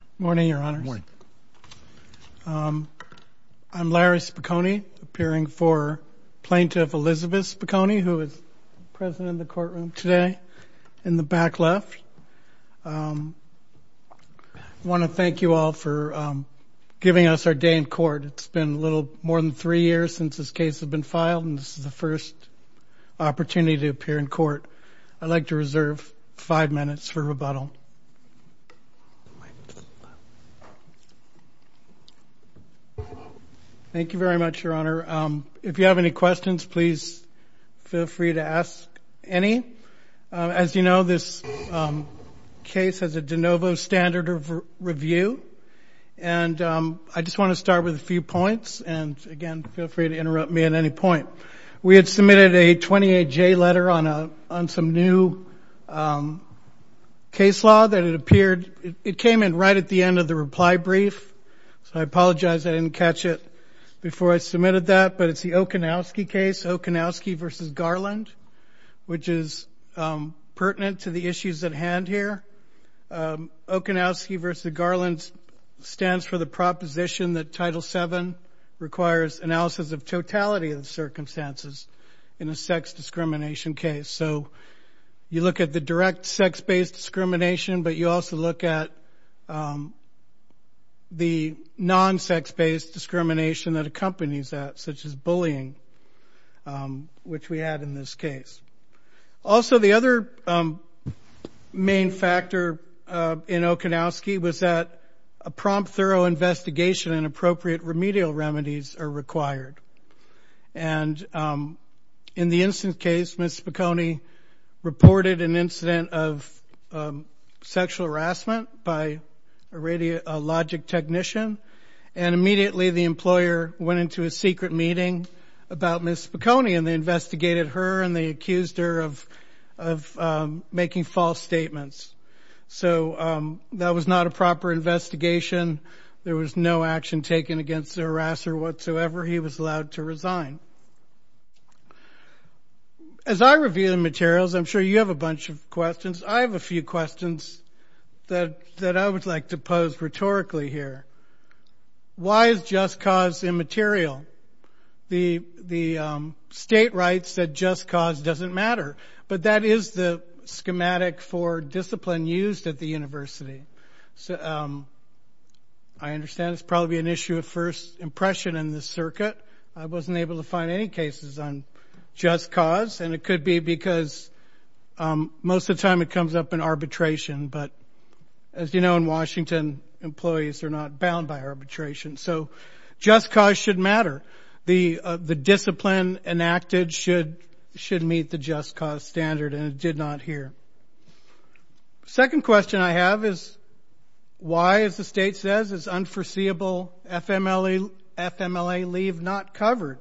Good morning, Your Honors. I'm Larry Spokoiny, appearing for Plaintiff Elizabeth Spokoiny, who is present in the courtroom today in the back left. I want to thank you all for giving us our day in court. It's been a little more than three years since this case has been filed and this is the first opportunity to appear in court. I'd like to reserve five minutes for rebuttal. Thank you very much, Your Honor. If you have any questions, please feel free to ask any. As you know, this case has a de novo standard of review and I just want to start with a few points and again, feel free to interrupt me at any point. We had submitted a 28-J letter on some new case law that had appeared. It came in right at the end of the reply brief, so I apologize I didn't catch it before I submitted that, but it's the Okinawski case, Okinawski v. Garland, which is pertinent to the issues at hand here. Okinawski v. Garland stands for the proposition that Title VII requires analysis of totality of the circumstances in a sex discrimination case. So you look at the direct sex-based discrimination, but you also look at the non-sex-based discrimination that accompanies that, such as bullying, which we had in this case. Also, the other main factor in Okinawski was that a prompt, thorough investigation and appropriate remedial remedies are required. And in the instance case, Ms. Spicone reported an incident of sexual harassment by a radiologic technician and immediately the employer went into a secret meeting about Ms. Spicone and they investigated her and they accused her of making false statements. So that was not a proper investigation. There was no action taken against the harasser whatsoever. He was allowed to resign. As I review the materials, I'm sure you have a bunch of questions. I have a few questions that I would like to pose rhetorically here. Why is just cause immaterial? The state writes that just cause doesn't matter, but that is the schematic for discipline used at the university. I understand it's probably an issue of first impression in the circuit. I wasn't able to find any cases on just cause, and it could be because most of the time it comes up in arbitration, but as you know in Washington, employees are not bound by arbitration. So just cause should matter. The discipline enacted should meet the just cause standard, and it did not here. Second question I have is why, as the state says, is unforeseeable FMLA leave not covered?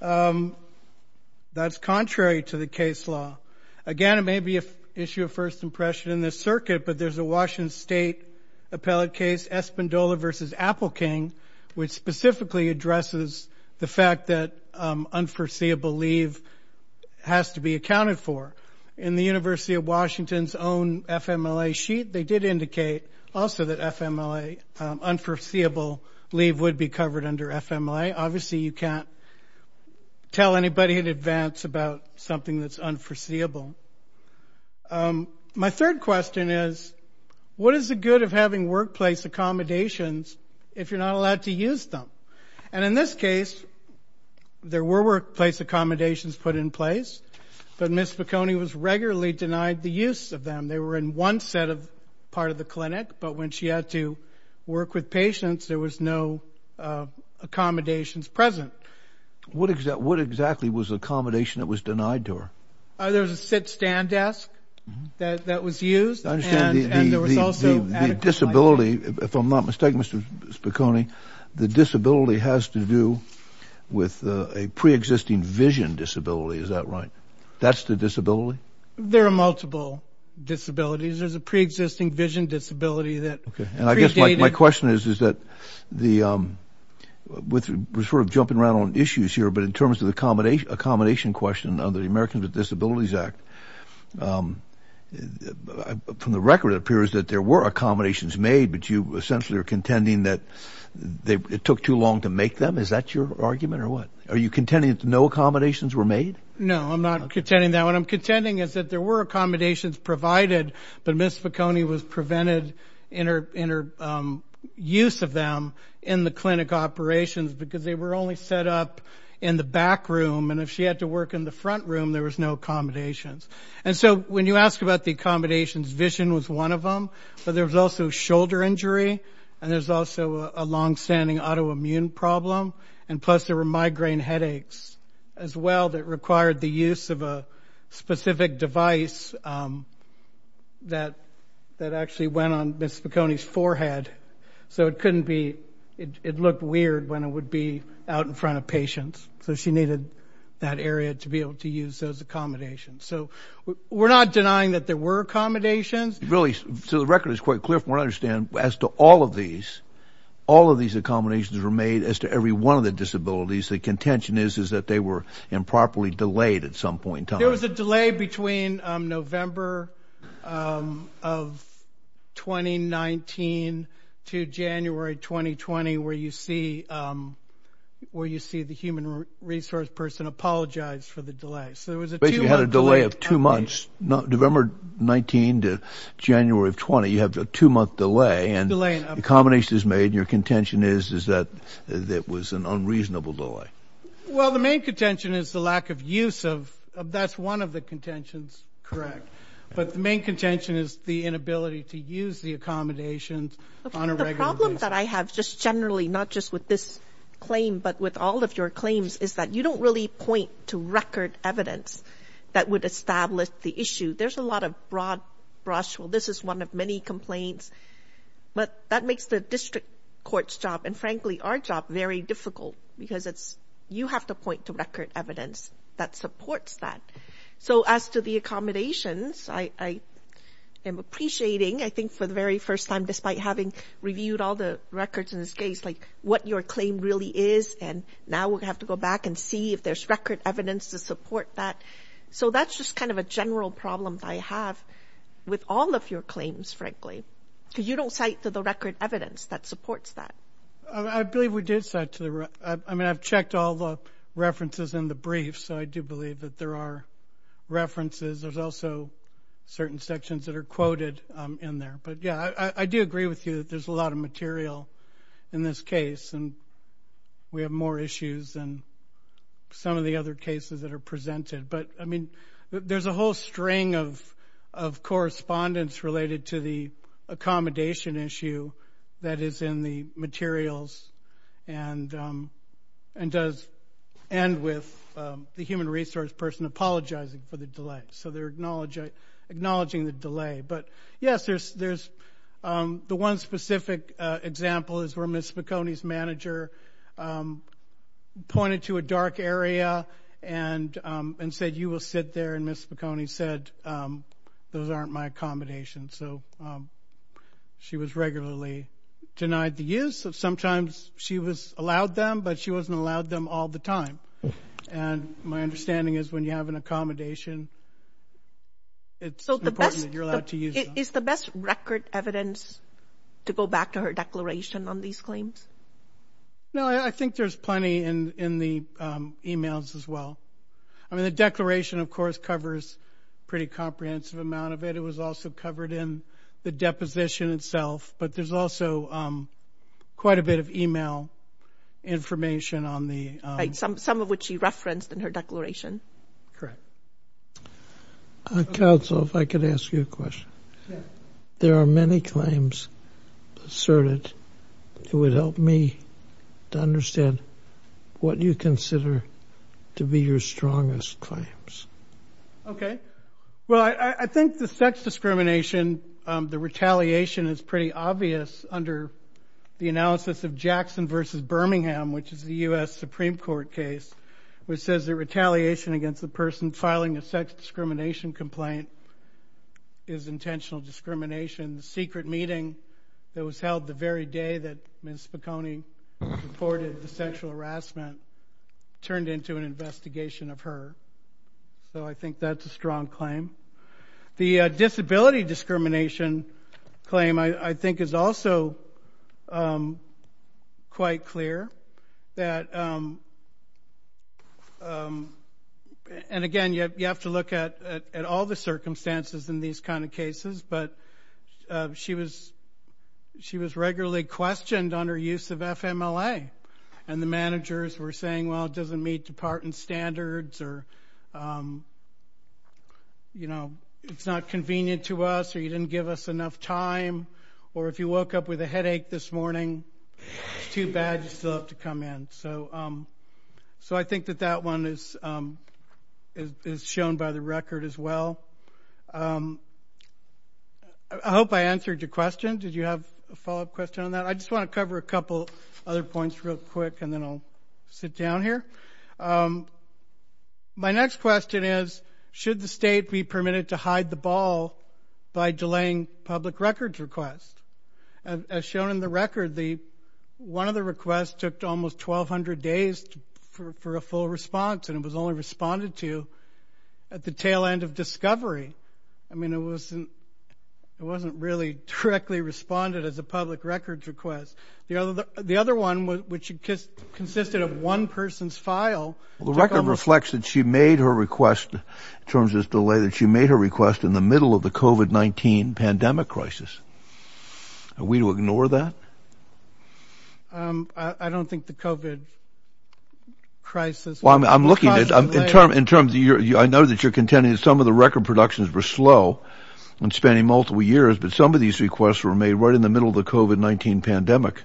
That's contrary to the case law. Again, it may be an issue of first impression in this circuit, but there's a Washington State appellate case, Espindola v. Appelking, which specifically addresses the fact that unforeseeable leave has to be accounted for. In the University of Washington's own FMLA sheet, they did indicate also that FMLA, unforeseeable leave would be covered under FMLA. Obviously you can't tell anybody in advance about something that's unforeseeable. My third question is what is the good of having workplace accommodations if you're not allowed to use them? And in this case, there were workplace accommodations put in place, but Ms. Spicone was regularly denied the use of them. They were in one set of part of the clinic, but when she had to work with patients, there was no accommodations present. What exactly was the accommodation that was denied to her? There was a sit-stand desk that was used, and there was also adequate So, Ms. Spicone, the disability has to do with a pre-existing vision disability, is that right? That's the disability? There are multiple disabilities. There's a pre-existing vision disability that predated... Okay, and I guess my question is that we're sort of jumping around on issues here, but in terms of the accommodation question under the Americans with Disabilities Act, from the record it appears that there were accommodations made, but you essentially are contending that it took too long to make them? Is that your argument or what? Are you contending that no accommodations were made? No, I'm not contending that. What I'm contending is that there were accommodations provided, but Ms. Spicone was prevented in her use of them in the clinic operations because they were only set up in the back room, and if she had to work in the front room, there was no accommodations. And so, when you ask about the accommodations, vision was one of them, but there was also shoulder injury, and there's also a long-standing autoimmune problem, and plus there were migraine headaches as well that required the use of a specific device that actually went on Ms. Spicone's forehead, so it couldn't be... It looked weird when it would be out in front of patients, so she needed that area to be able to use those accommodations. So, we're not denying that there were accommodations. Really, so the record is quite clear from what I understand. As to all of these, all of these accommodations were made as to every one of the disabilities. The contention is that they were improperly delayed at some point in time. There was a delay between November of 2019 to January 2020, where you see the human resource person apologize for the delay. Basically, you had a delay of two months. November 19 to January of 20, you have a two-month delay, and the accommodation is made, and your contention is that it was an unreasonable delay. Well, the main contention is the lack of use of... That's one of the contentions. But the main contention is the inability to use the accommodations on a regular basis. The problem that I have just generally, not just with this claim, but with all of your claims, is that you don't really point to record evidence that would establish the issue. There's a lot of broad brush. Well, this is one of many complaints, but that makes the district court's job, and frankly, our job, very difficult, because you have to point to record evidence that supports that. So, as to the accommodations, I am appreciating, I think, for the very first time, despite having reviewed all the records in this case, like what your claim really is, and now we'll have to go back and see if there's record evidence to support that. So, that's just kind of a general problem that I have with all of your claims, frankly, because you don't cite to the record evidence that supports that. I believe we did cite to the... I mean, I've checked all the references in the brief, so I do believe that there are references. There's also certain sections that are quoted in there. But yeah, I do agree with you that there's a lot of material in this case, and we have more issues than some of the other cases that are presented. But, I mean, there's a whole string of correspondence related to the accommodation issue that is in the materials, and does end with the human resource person apologizing for the delay. So, they're So, the best... Is the best record evidence to go back to her declaration on these claims? No, I think there's plenty in the emails as well. I mean, the declaration, of course, covers a pretty comprehensive amount of it. It was also covered in the deposition itself, but there's also quite a bit of email information on the... Right, some of which she referenced in her declaration. Correct. Counsel, if I could ask you a question. There are many claims asserted. It would help me to understand what you consider to be your strongest claims. Okay, well, I think the sex discrimination, the retaliation is pretty obvious under the analysis of Jackson versus Birmingham, which is the U.S. Supreme Court case, which says the retaliation against the person filing a sex discrimination complaint is intentional discrimination. The secret meeting that was reported the sexual harassment turned into an investigation of her. So, I think that's a strong claim. The disability discrimination claim, I think, is also quite clear that... And again, you have to look at all the circumstances in these kind of cases, but she was regularly questioned on her use of FMLA, and the managers were saying, well, it doesn't meet department standards, or it's not convenient to us, or you didn't give us enough time, or if you woke up with a headache this morning, it's too bad you still have to come in. So, I think that that one is shown by the record as well. I hope I answered your question. Did you have a follow-up question on that? I just want to cover a couple other points real quick, and then I'll sit down here. My next question is, should the state be permitted to hide the ball by delaying public records requests? As shown in the record, one of the requests took almost 1,200 days for a full response, and it was only responded to at the tail end of discovery. I mean, it wasn't really directly responded as a public records request. The other one, which consisted of one person's file... Well, the record reflects that she made her request, in terms of this delay, that she made her request in the middle of the COVID-19 pandemic crisis. Are we to ignore that? I don't think the COVID crisis... Well, I'm looking in terms of... I know that you're contending that some of the record productions were slow and spanning multiple years, but some of these requests were made right in the middle of the COVID-19 pandemic.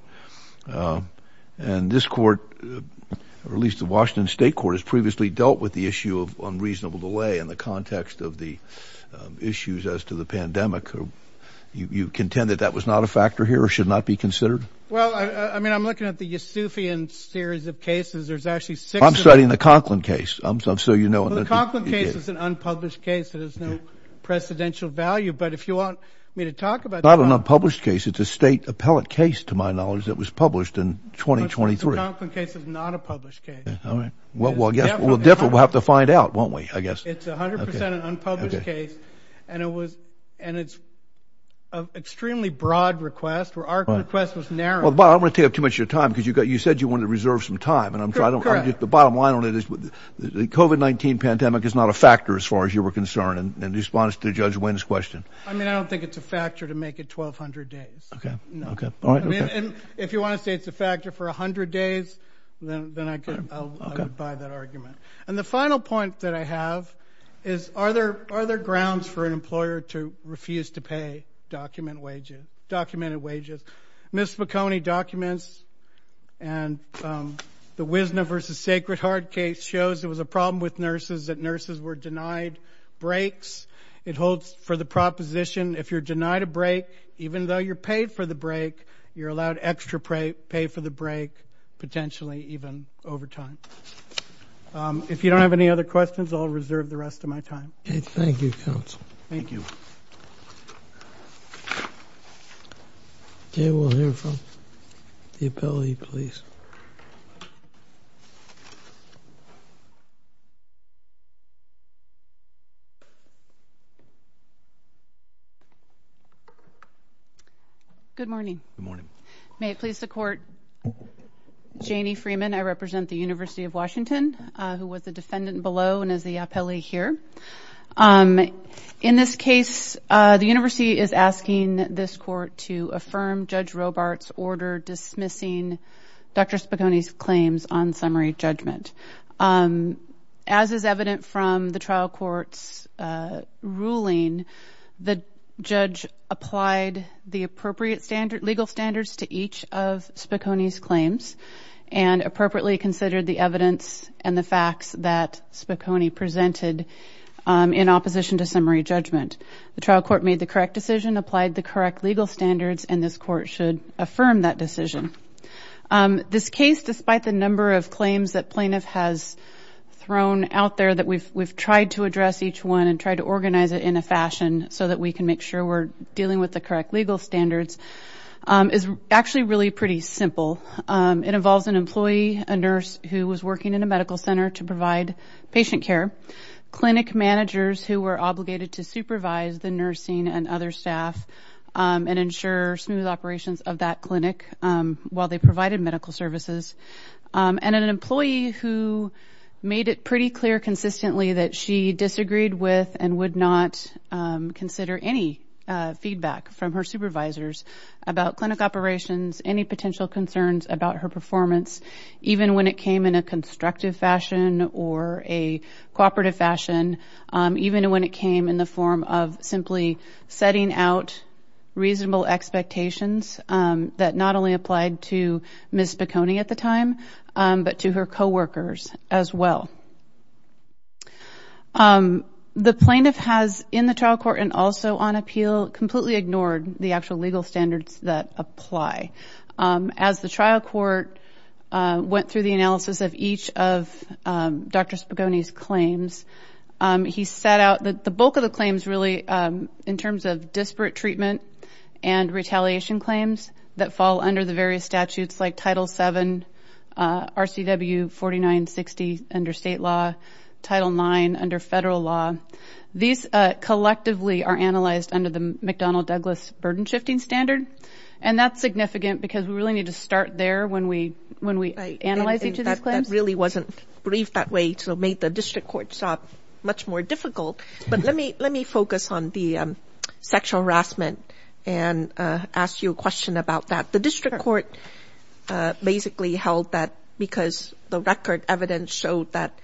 And this court, or at least the Washington State Court, has previously dealt with the issue of unreasonable delay in the context of the issues as to the pandemic. You contend that that was not a factor here or should not be considered? Well, I mean, I'm looking at the Yusufian series of cases. There's actually six of them. I'm studying the Conklin case, just so you know. Well, the Conklin case is an unpublished case that has no precedential value, but if you want me to talk about... It's not an unpublished case. It's a state appellate case, to my knowledge, that was published in 2023. But the Conklin case is not a published case. Well, I guess we'll have to find out, won't we, I guess? It's 100% an unpublished case, and it's an extremely broad request, where our request was narrow. Well, Bob, I'm going to have too much of your time, because you said you wanted to reserve some time. The bottom line on it is the COVID-19 pandemic is not a factor, as far as you were concerned, in response to Judge Wynn's question. I mean, I don't think it's a factor to make it 1,200 days. Okay. Okay. All right. And if you want to say it's a factor for 100 days, then I'll abide that argument. And the final point that I have is, are there grounds for an employer to refuse to pay documented wages? Ms. McHoney documents, and the Wisna v. Sacred Heart case shows there was a problem with nurses, that nurses were denied breaks. It holds for the proposition, if you're denied a break, even though you're paid for the break, you're allowed extra pay for the break, potentially even over time. If you don't have any other questions, I'll reserve the rest of my time. Okay. Thank you, counsel. Thank you. Okay, we'll hear from the appellee, please. Good morning. Good morning. May it please the court, Janie Freeman, I represent the University of Washington, who was the defendant below and is appellee here. In this case, the university is asking this court to affirm Judge Robart's order dismissing Dr. Spicone's claims on summary judgment. As is evident from the trial court's ruling, the judge applied the appropriate legal standards to each of Spicone's claims, and appropriately considered the evidence and the facts that Spicone presented in opposition to summary judgment. The trial court made the correct decision, applied the correct legal standards, and this court should affirm that decision. This case, despite the number of claims that plaintiff has thrown out there, that we've tried to address each one and tried to organize it in a fashion so that we can make sure we're dealing with the correct legal standards, is actually really pretty simple. It involves an employee, a nurse who was working in a medical center to provide patient care, clinic managers who were obligated to supervise the nursing and other staff and ensure smooth operations of that clinic while they provided medical services, and an employee who made it pretty clear consistently that she disagreed with and would not consider any feedback from her supervisors about clinic operations, any potential concerns about her performance, even when it came in a constructive fashion or a cooperative fashion, even when it came in the form of simply setting out reasonable expectations that not only applied to Ms. Spicone at the time, but to her co-workers as well. The plaintiff has, in the trial court and also on appeal, completely ignored the actual legal standards that apply. As the trial court went through the analysis of each of Dr. Spicone's claims, he set out that the bulk of the claims really, in terms of disparate treatment and retaliation claims that fall under the various statutes, like Title VII, RCW 4960 under state law, Title IX under federal law, these collectively are analyzed under the McDonnell-Douglas burden shifting standard, and that's significant because we really need to start there when we analyze each of these claims. That really wasn't briefed that way, so it made the district court much more difficult, but let me focus on the sexual harassment and ask you a question about that. The district court basically held that because the record evidence showed that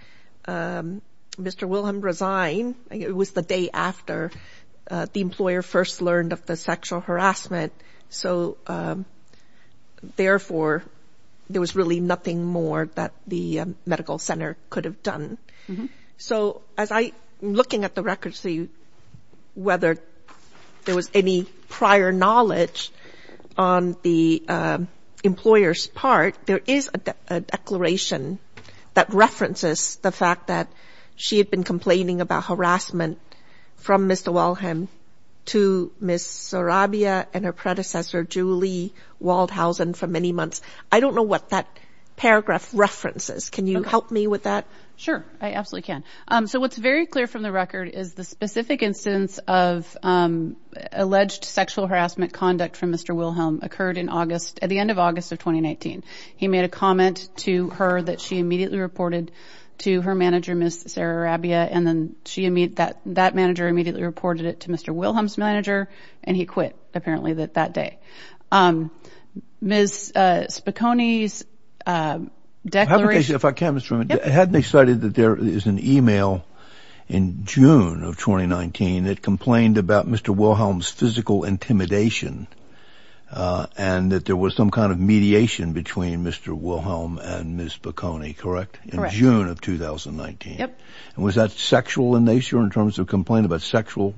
Mr. Wilhelm resigned, it was the day after the employer first learned of the sexual harassment, so therefore there was really nothing more that the medical center could have done. So as I'm looking at the records to see whether there was any prior knowledge on the employer's part, there is a declaration that references the fact that she had been complaining about harassment from Mr. Wilhelm to Ms. Sarabia and her predecessor, Julie Waldhausen, for many months. I don't know what that paragraph references. Can you help me with that? Sure, I absolutely can. So what's very clear from the record is the specific instance of alleged sexual harassment conduct from Mr. Wilhelm occurred in August, at the end of August of 2019. He made a comment to her that she immediately reported to her manager, Ms. Sarabia, and then that manager immediately reported it to Mr. Wilhelm's manager, and he quit apparently that day. Ms. Spicconi's declaration... If I can, Mr. Freeman, hadn't they cited that there is an email in June of 2019 that complained about Mr. Wilhelm's physical intimidation and that there was some kind of mediation between Mr. Wilhelm and Ms. Spicconi, correct? Correct. In June of 2019. Yep. And was that sexual in nature in terms of complaint about sexual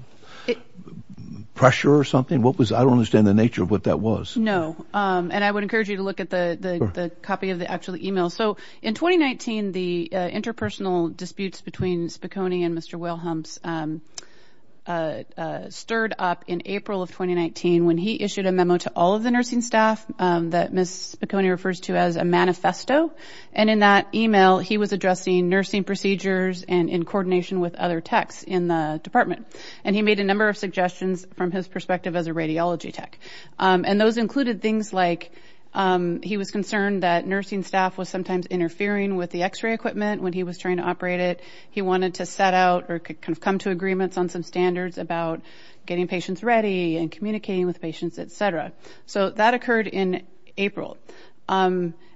pressure or something? I don't understand the nature of what that was. No, and I would encourage you to look at the copy of the actual email. So in 2019, the interpersonal disputes between Spicconi and Mr. Wilhelm stirred up in April of 2019 when he issued a memo to all of the nursing staff that Ms. Spicconi refers to as a manifesto, and in that email, he was addressing nursing procedures and in coordination with other techs in the department, and he made a number of suggestions from his perspective as a radiology tech, and those included things like he was concerned that nursing staff was sometimes interfering with the x-ray equipment when he was trying to operate it. He wanted to set out or kind of come to agreements on some standards about getting patients ready and communicating with patients, etc. So that occurred in April,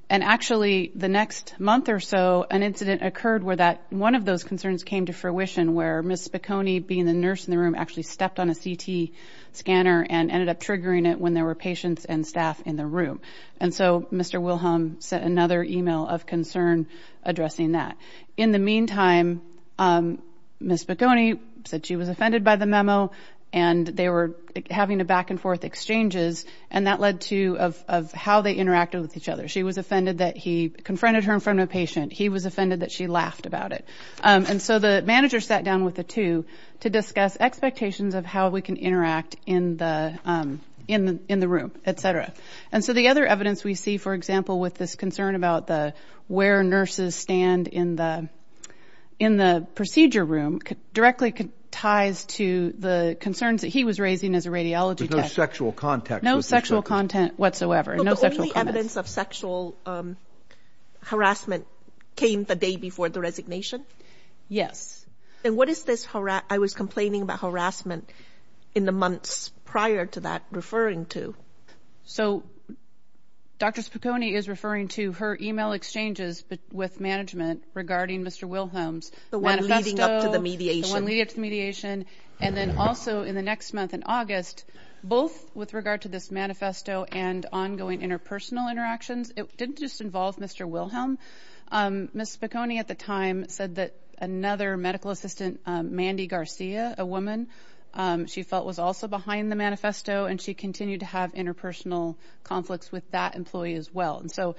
and actually the next month or so, an incident occurred where that one of those concerns came to fruition where Ms. Spicconi, being the nurse in the room, actually stepped on a CT scanner and ended up triggering it when there were patients and staff in the room, and so Mr. Wilhelm sent another email of concern addressing that. In the meantime, Ms. Spicconi said she was offended by the memo, and they were having to back and forth exchanges, and that led to how they interacted with each other. She was offended that he confronted her in front of a patient. He was offended that she laughed about it, and so the manager sat down with the two to discuss expectations of how we can interact in the room, etc., and so the other evidence we see, for example, with this concern about where nurses stand in the procedure room directly ties to the concerns that he was raising as a radiology tech. But no sexual context. No sexual content whatsoever. But the only evidence of sexual harassment came the day before the resignation? Yes. And what is this, I was complaining about harassment in the months prior to that, referring to? So Dr. Spicconi is referring to her email exchanges with management regarding Mr. Wilhelm's manifesto. The one leading up to the mediation. The one leading up to the mediation, and then also in the next month in August, both with regard to this manifesto and ongoing interpersonal interactions, it didn't just involve Mr. Wilhelm. Ms. Spicconi at the time said that another medical assistant, Mandy Garcia, a woman, she felt was also behind the manifesto, and she continued to have interpersonal conflicts with that employee as well. And so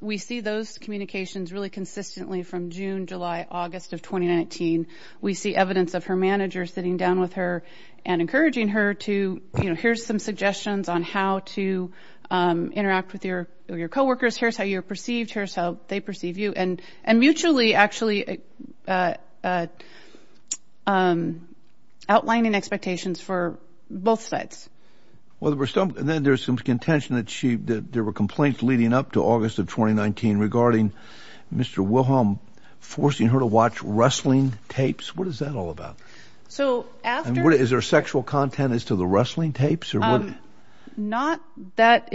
we see those communications really consistently from June, July, August of 2019. We see evidence of her manager sitting down with her and encouraging her to, you know, here's some suggestions on how to interact with your co-workers. Here's how you're perceived. Here's how they perceive you. And mutually actually outlining expectations for both sides. Well, then there's some contention that there were complaints leading up to August of 2019 regarding Mr. Wilhelm forcing her to watch wrestling tapes. What is that all about? So, after... Is there sexual content as to the wrestling tapes? Not that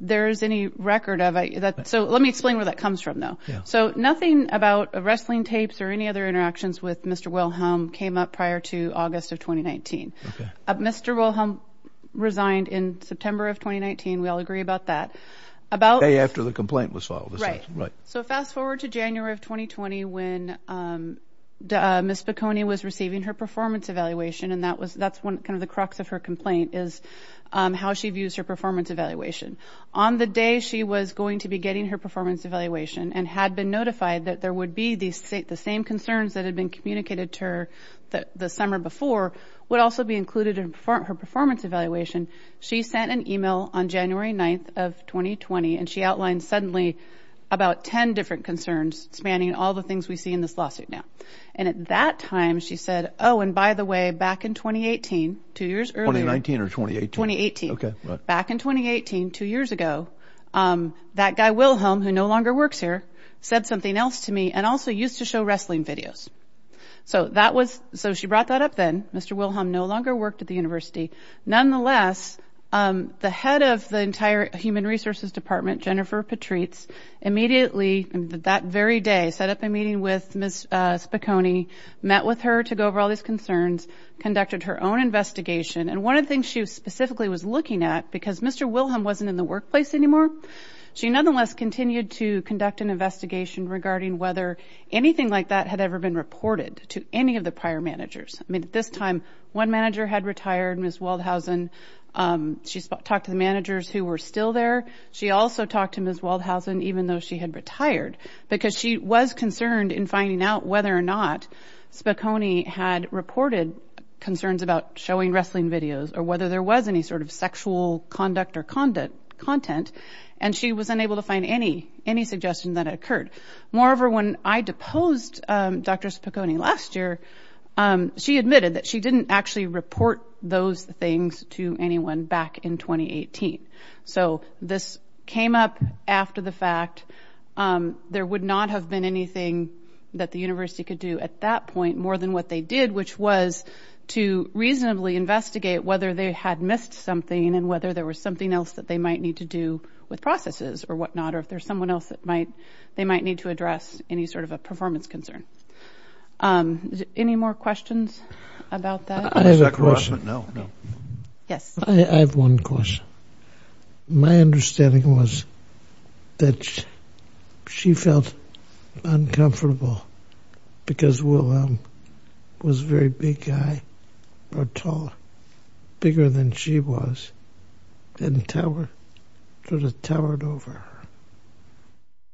there is any record of. So let me explain where that comes from, though. So nothing about wrestling tapes or any other interactions with Mr. Wilhelm came up prior to August of 2019. Mr. Wilhelm resigned in September of 2019. We all agree about that. About... Right. So fast forward to January of 2020 when Ms. Bacconi was receiving her performance evaluation, and that's kind of the crux of her complaint is how she views her performance evaluation. On the day she was going to be getting her performance evaluation and had been notified that there would be the same concerns that had been communicated to her the summer before would also be included in her performance evaluation, she sent an email on January 9th of 2020, and she outlined suddenly about 10 different concerns spanning all the things we see in this lawsuit now. And at that time she said, oh, and by the way, back in 2018, two years earlier... 2019 or 2018? 2018. Okay. Back in 2018, two years ago, that guy Wilhelm, who no longer works here, said something else to me and also used to show wrestling videos. So that was... So she brought that up then. Mr. Wilhelm no longer worked at the university. Nonetheless, the head of the entire human resources department, Jennifer Patrice, immediately, that very day, set up a meeting with Ms. Bacconi, met with her to go over all these concerns, conducted her own investigation. And one of the things she specifically was looking at, because Mr. Wilhelm wasn't in the workplace anymore, she nonetheless continued to conduct an investigation regarding whether anything like that had ever been reported to any of the prior managers. I mean, at this time, one manager had retired, Ms. Waldhausen. She talked to the managers who were still there. She also talked to Ms. Waldhausen, even though she had retired, because she was concerned in finding out whether or not Bacconi had reported concerns about showing wrestling videos or whether there was any sort of sexual conduct or content. And she was unable to find any suggestion that it occurred. Moreover, when I deposed Dr. Bacconi last year, she admitted that she didn't actually report those things to anyone back in 2018. So this came up after the fact. There would not have been anything that the university could do at that point more than what they did, which was to reasonably investigate whether they had missed something and whether there was something else that they might need to do with processes or whatnot, or if there's someone else that might, they might need to address any sort of a performance concern. Any more questions about that? I have a question. Yes. I have one question. My understanding was that she felt uncomfortable because Will was a very big guy or taller, bigger than she was, didn't tell her, sort of towered over her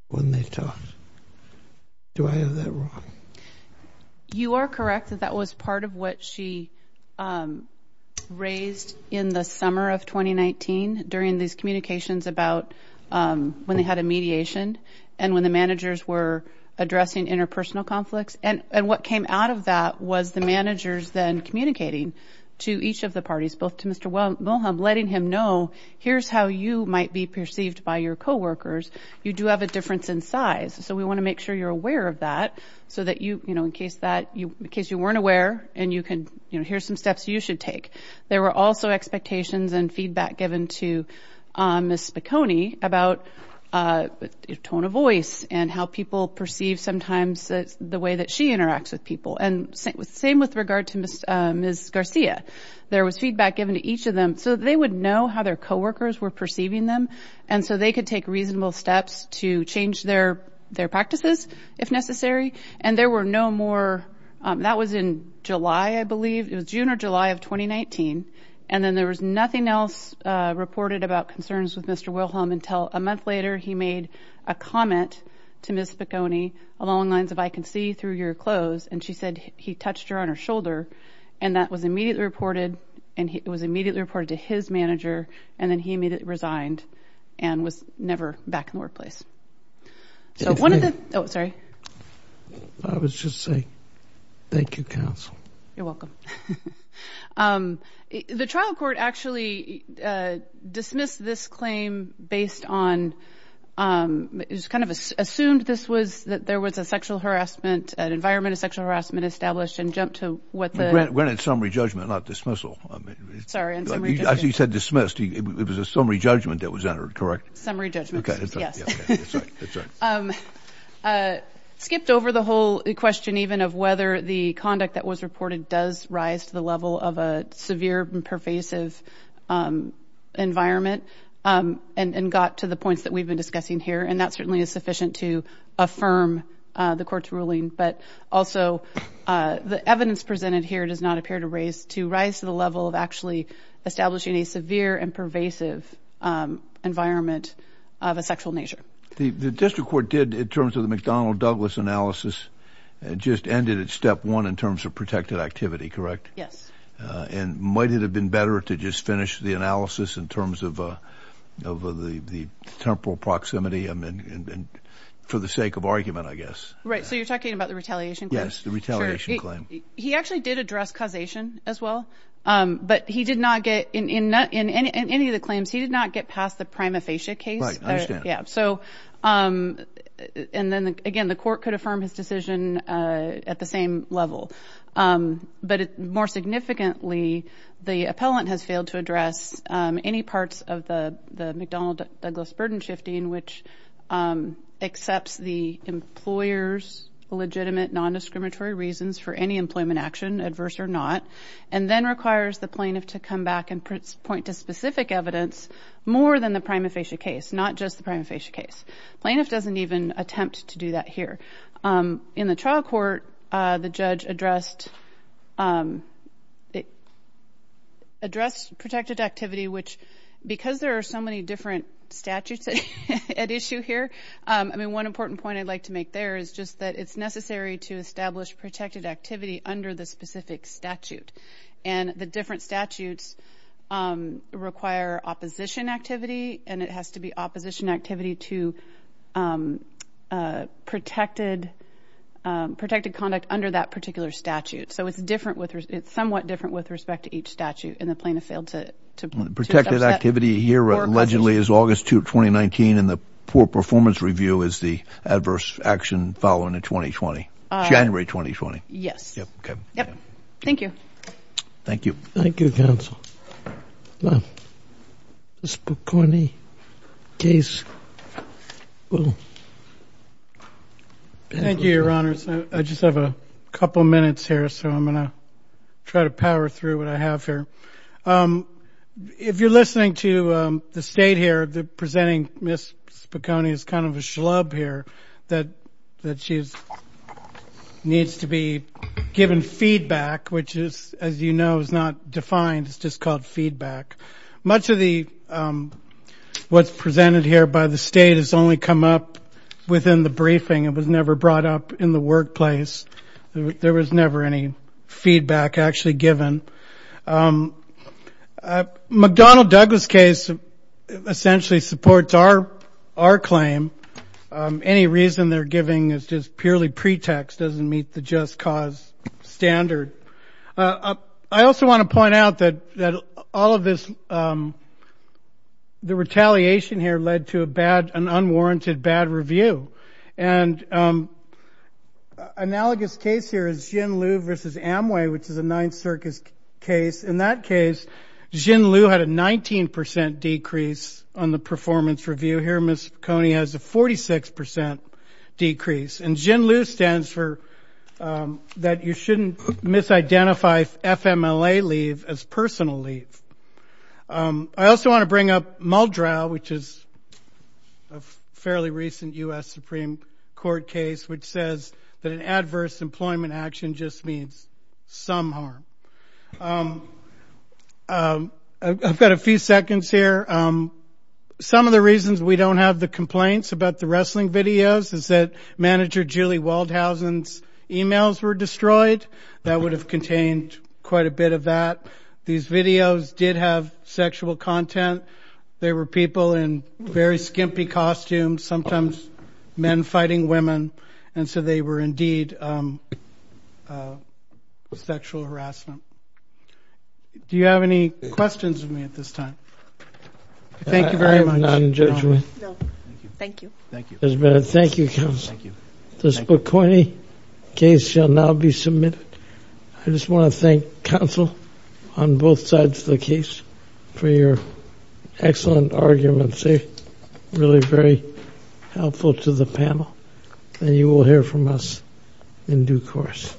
when they talked. Do I have that wrong? You are correct that that was part of what she raised in the summer of 2019 during these communications about when they had a mediation and when the managers were addressing interpersonal conflicts. And what came out of that was the managers then communicating to each of the parties, both to Mr. Wilhelm, letting him know, here's how you might be perceived by your coworkers. You do have a difference in size. So we want to make sure you're aware of that so that you, you know, in case that you, in case you weren't aware and you can, you know, here's some steps you should take. There were also expectations and feedback given to Ms. Spicone about tone of voice and how people perceive sometimes the way that interacts with people. And same with regard to Ms. Garcia, there was feedback given to each of them so that they would know how their coworkers were perceiving them. And so they could take reasonable steps to change their, their practices if necessary. And there were no more, that was in July, I believe it was June or July of 2019. And then there was nothing else reported about concerns with Mr. Wilhelm until a month later, he made a comment to Ms. Spicone along the lines of, I can see through your clothes. And she said he touched her on her shoulder and that was immediately reported and it was immediately reported to his manager. And then he immediately resigned and was never back in the workplace. So one of the, oh, sorry. I was just saying, thank you, counsel. You're welcome. The trial court actually dismissed this claim based on, it was kind of assumed this was that there was a sexual harassment, an environment of sexual harassment established and jumped to what the... It went in summary judgment, not dismissal. Sorry. As you said, dismissed, it was a summary judgment that was entered, correct? Summary judgment, yes. Skipped over the whole question even of whether the conduct that was reported does rise to the level of a severe and pervasive environment and got to the points that we've been discussing here. And that certainly is sufficient to affirm the court's ruling, but also the evidence presented here does not appear to rise to the level of actually establishing a severe and pervasive environment of a sexual nature. The district court did, in terms of the McDonnell-Douglas analysis, just ended at step one in terms of protected activity, correct? Yes. And might it have been to just finish the analysis in terms of the temporal proximity for the sake of argument, I guess. Right. So you're talking about the retaliation claim? Yes, the retaliation claim. He actually did address causation as well, but in any of the claims, he did not get past the prima facie case. Right. I understand. Yeah. And then again, the court could affirm his decision at the same level. But more significantly, the appellant has failed to address any parts of the McDonnell-Douglas burden shifting, which accepts the employer's legitimate non-discriminatory reasons for any employment action, adverse or not, and then requires the plaintiff to come back and point to specific evidence more than the prima facie case, not just the prima facie case. Plaintiff doesn't even attempt to do that here. In the trial court, the judge addressed protected activity, which because there are so many different statutes at issue here, I mean, one important point I'd like to make there is just that it's necessary to establish protected activity under the specific statute. And the different statutes require opposition activity, and it has to be opposition activity to protected conduct under that particular statute. So it's somewhat different with respect to each statute in the plaintiff's field. Protected activity here allegedly is August 2, 2019, and the poor performance review is the adverse action following in January 2020. Yes. Thank you. Thank you. Thank you, counsel. Now, Ms. Spicone, case. Thank you, your honors. I just have a couple minutes here, so I'm going to try to power through what I have here. If you're listening to the state here, presenting Ms. Spicone is kind of a schlub here that she needs to be given feedback, which is, as you know, is not defined. It's just called feedback. Much of what's presented here by the state has only come up within the briefing. It was never brought up in the workplace. There was never any feedback actually given. McDonnell-Douglas case essentially supports our claim. Any reason they're giving is just purely pretext, doesn't meet the just cause standard. I also want to point out that all of this, the retaliation here led to a bad, an unwarranted bad review. And analogous case here is Jin Liu versus Amway, which is a Ninth Circus case. In that case, Jin Liu had a 19% decrease on the performance review. Here, Ms. Spicone has a 46% decrease. And Jin Liu stands for that you shouldn't misidentify FMLA leave as personal leave. I also want to bring up Muldrow, which is a fairly recent U.S. Supreme Court case, which says that an adverse employment action just means some harm. I've got a few seconds here. Some of the reasons we don't have the complaints about the wrestling videos is that manager Julie Waldhausen's emails were destroyed. That would have contained quite a bit of that. These videos did have sexual content. They were people in very skimpy costumes, sometimes men fighting women. And so they were indeed sexual harassment. Do you have any questions for me at this time? Thank you very much. I'm not in judgment. No. Thank you. Thank you. Thank you, counsel. The Spicone case shall now be submitted. I just want to thank counsel on both sides of the case for your excellent arguments. They're really very helpful to the panel. And you will hear from us in due course. Thank you.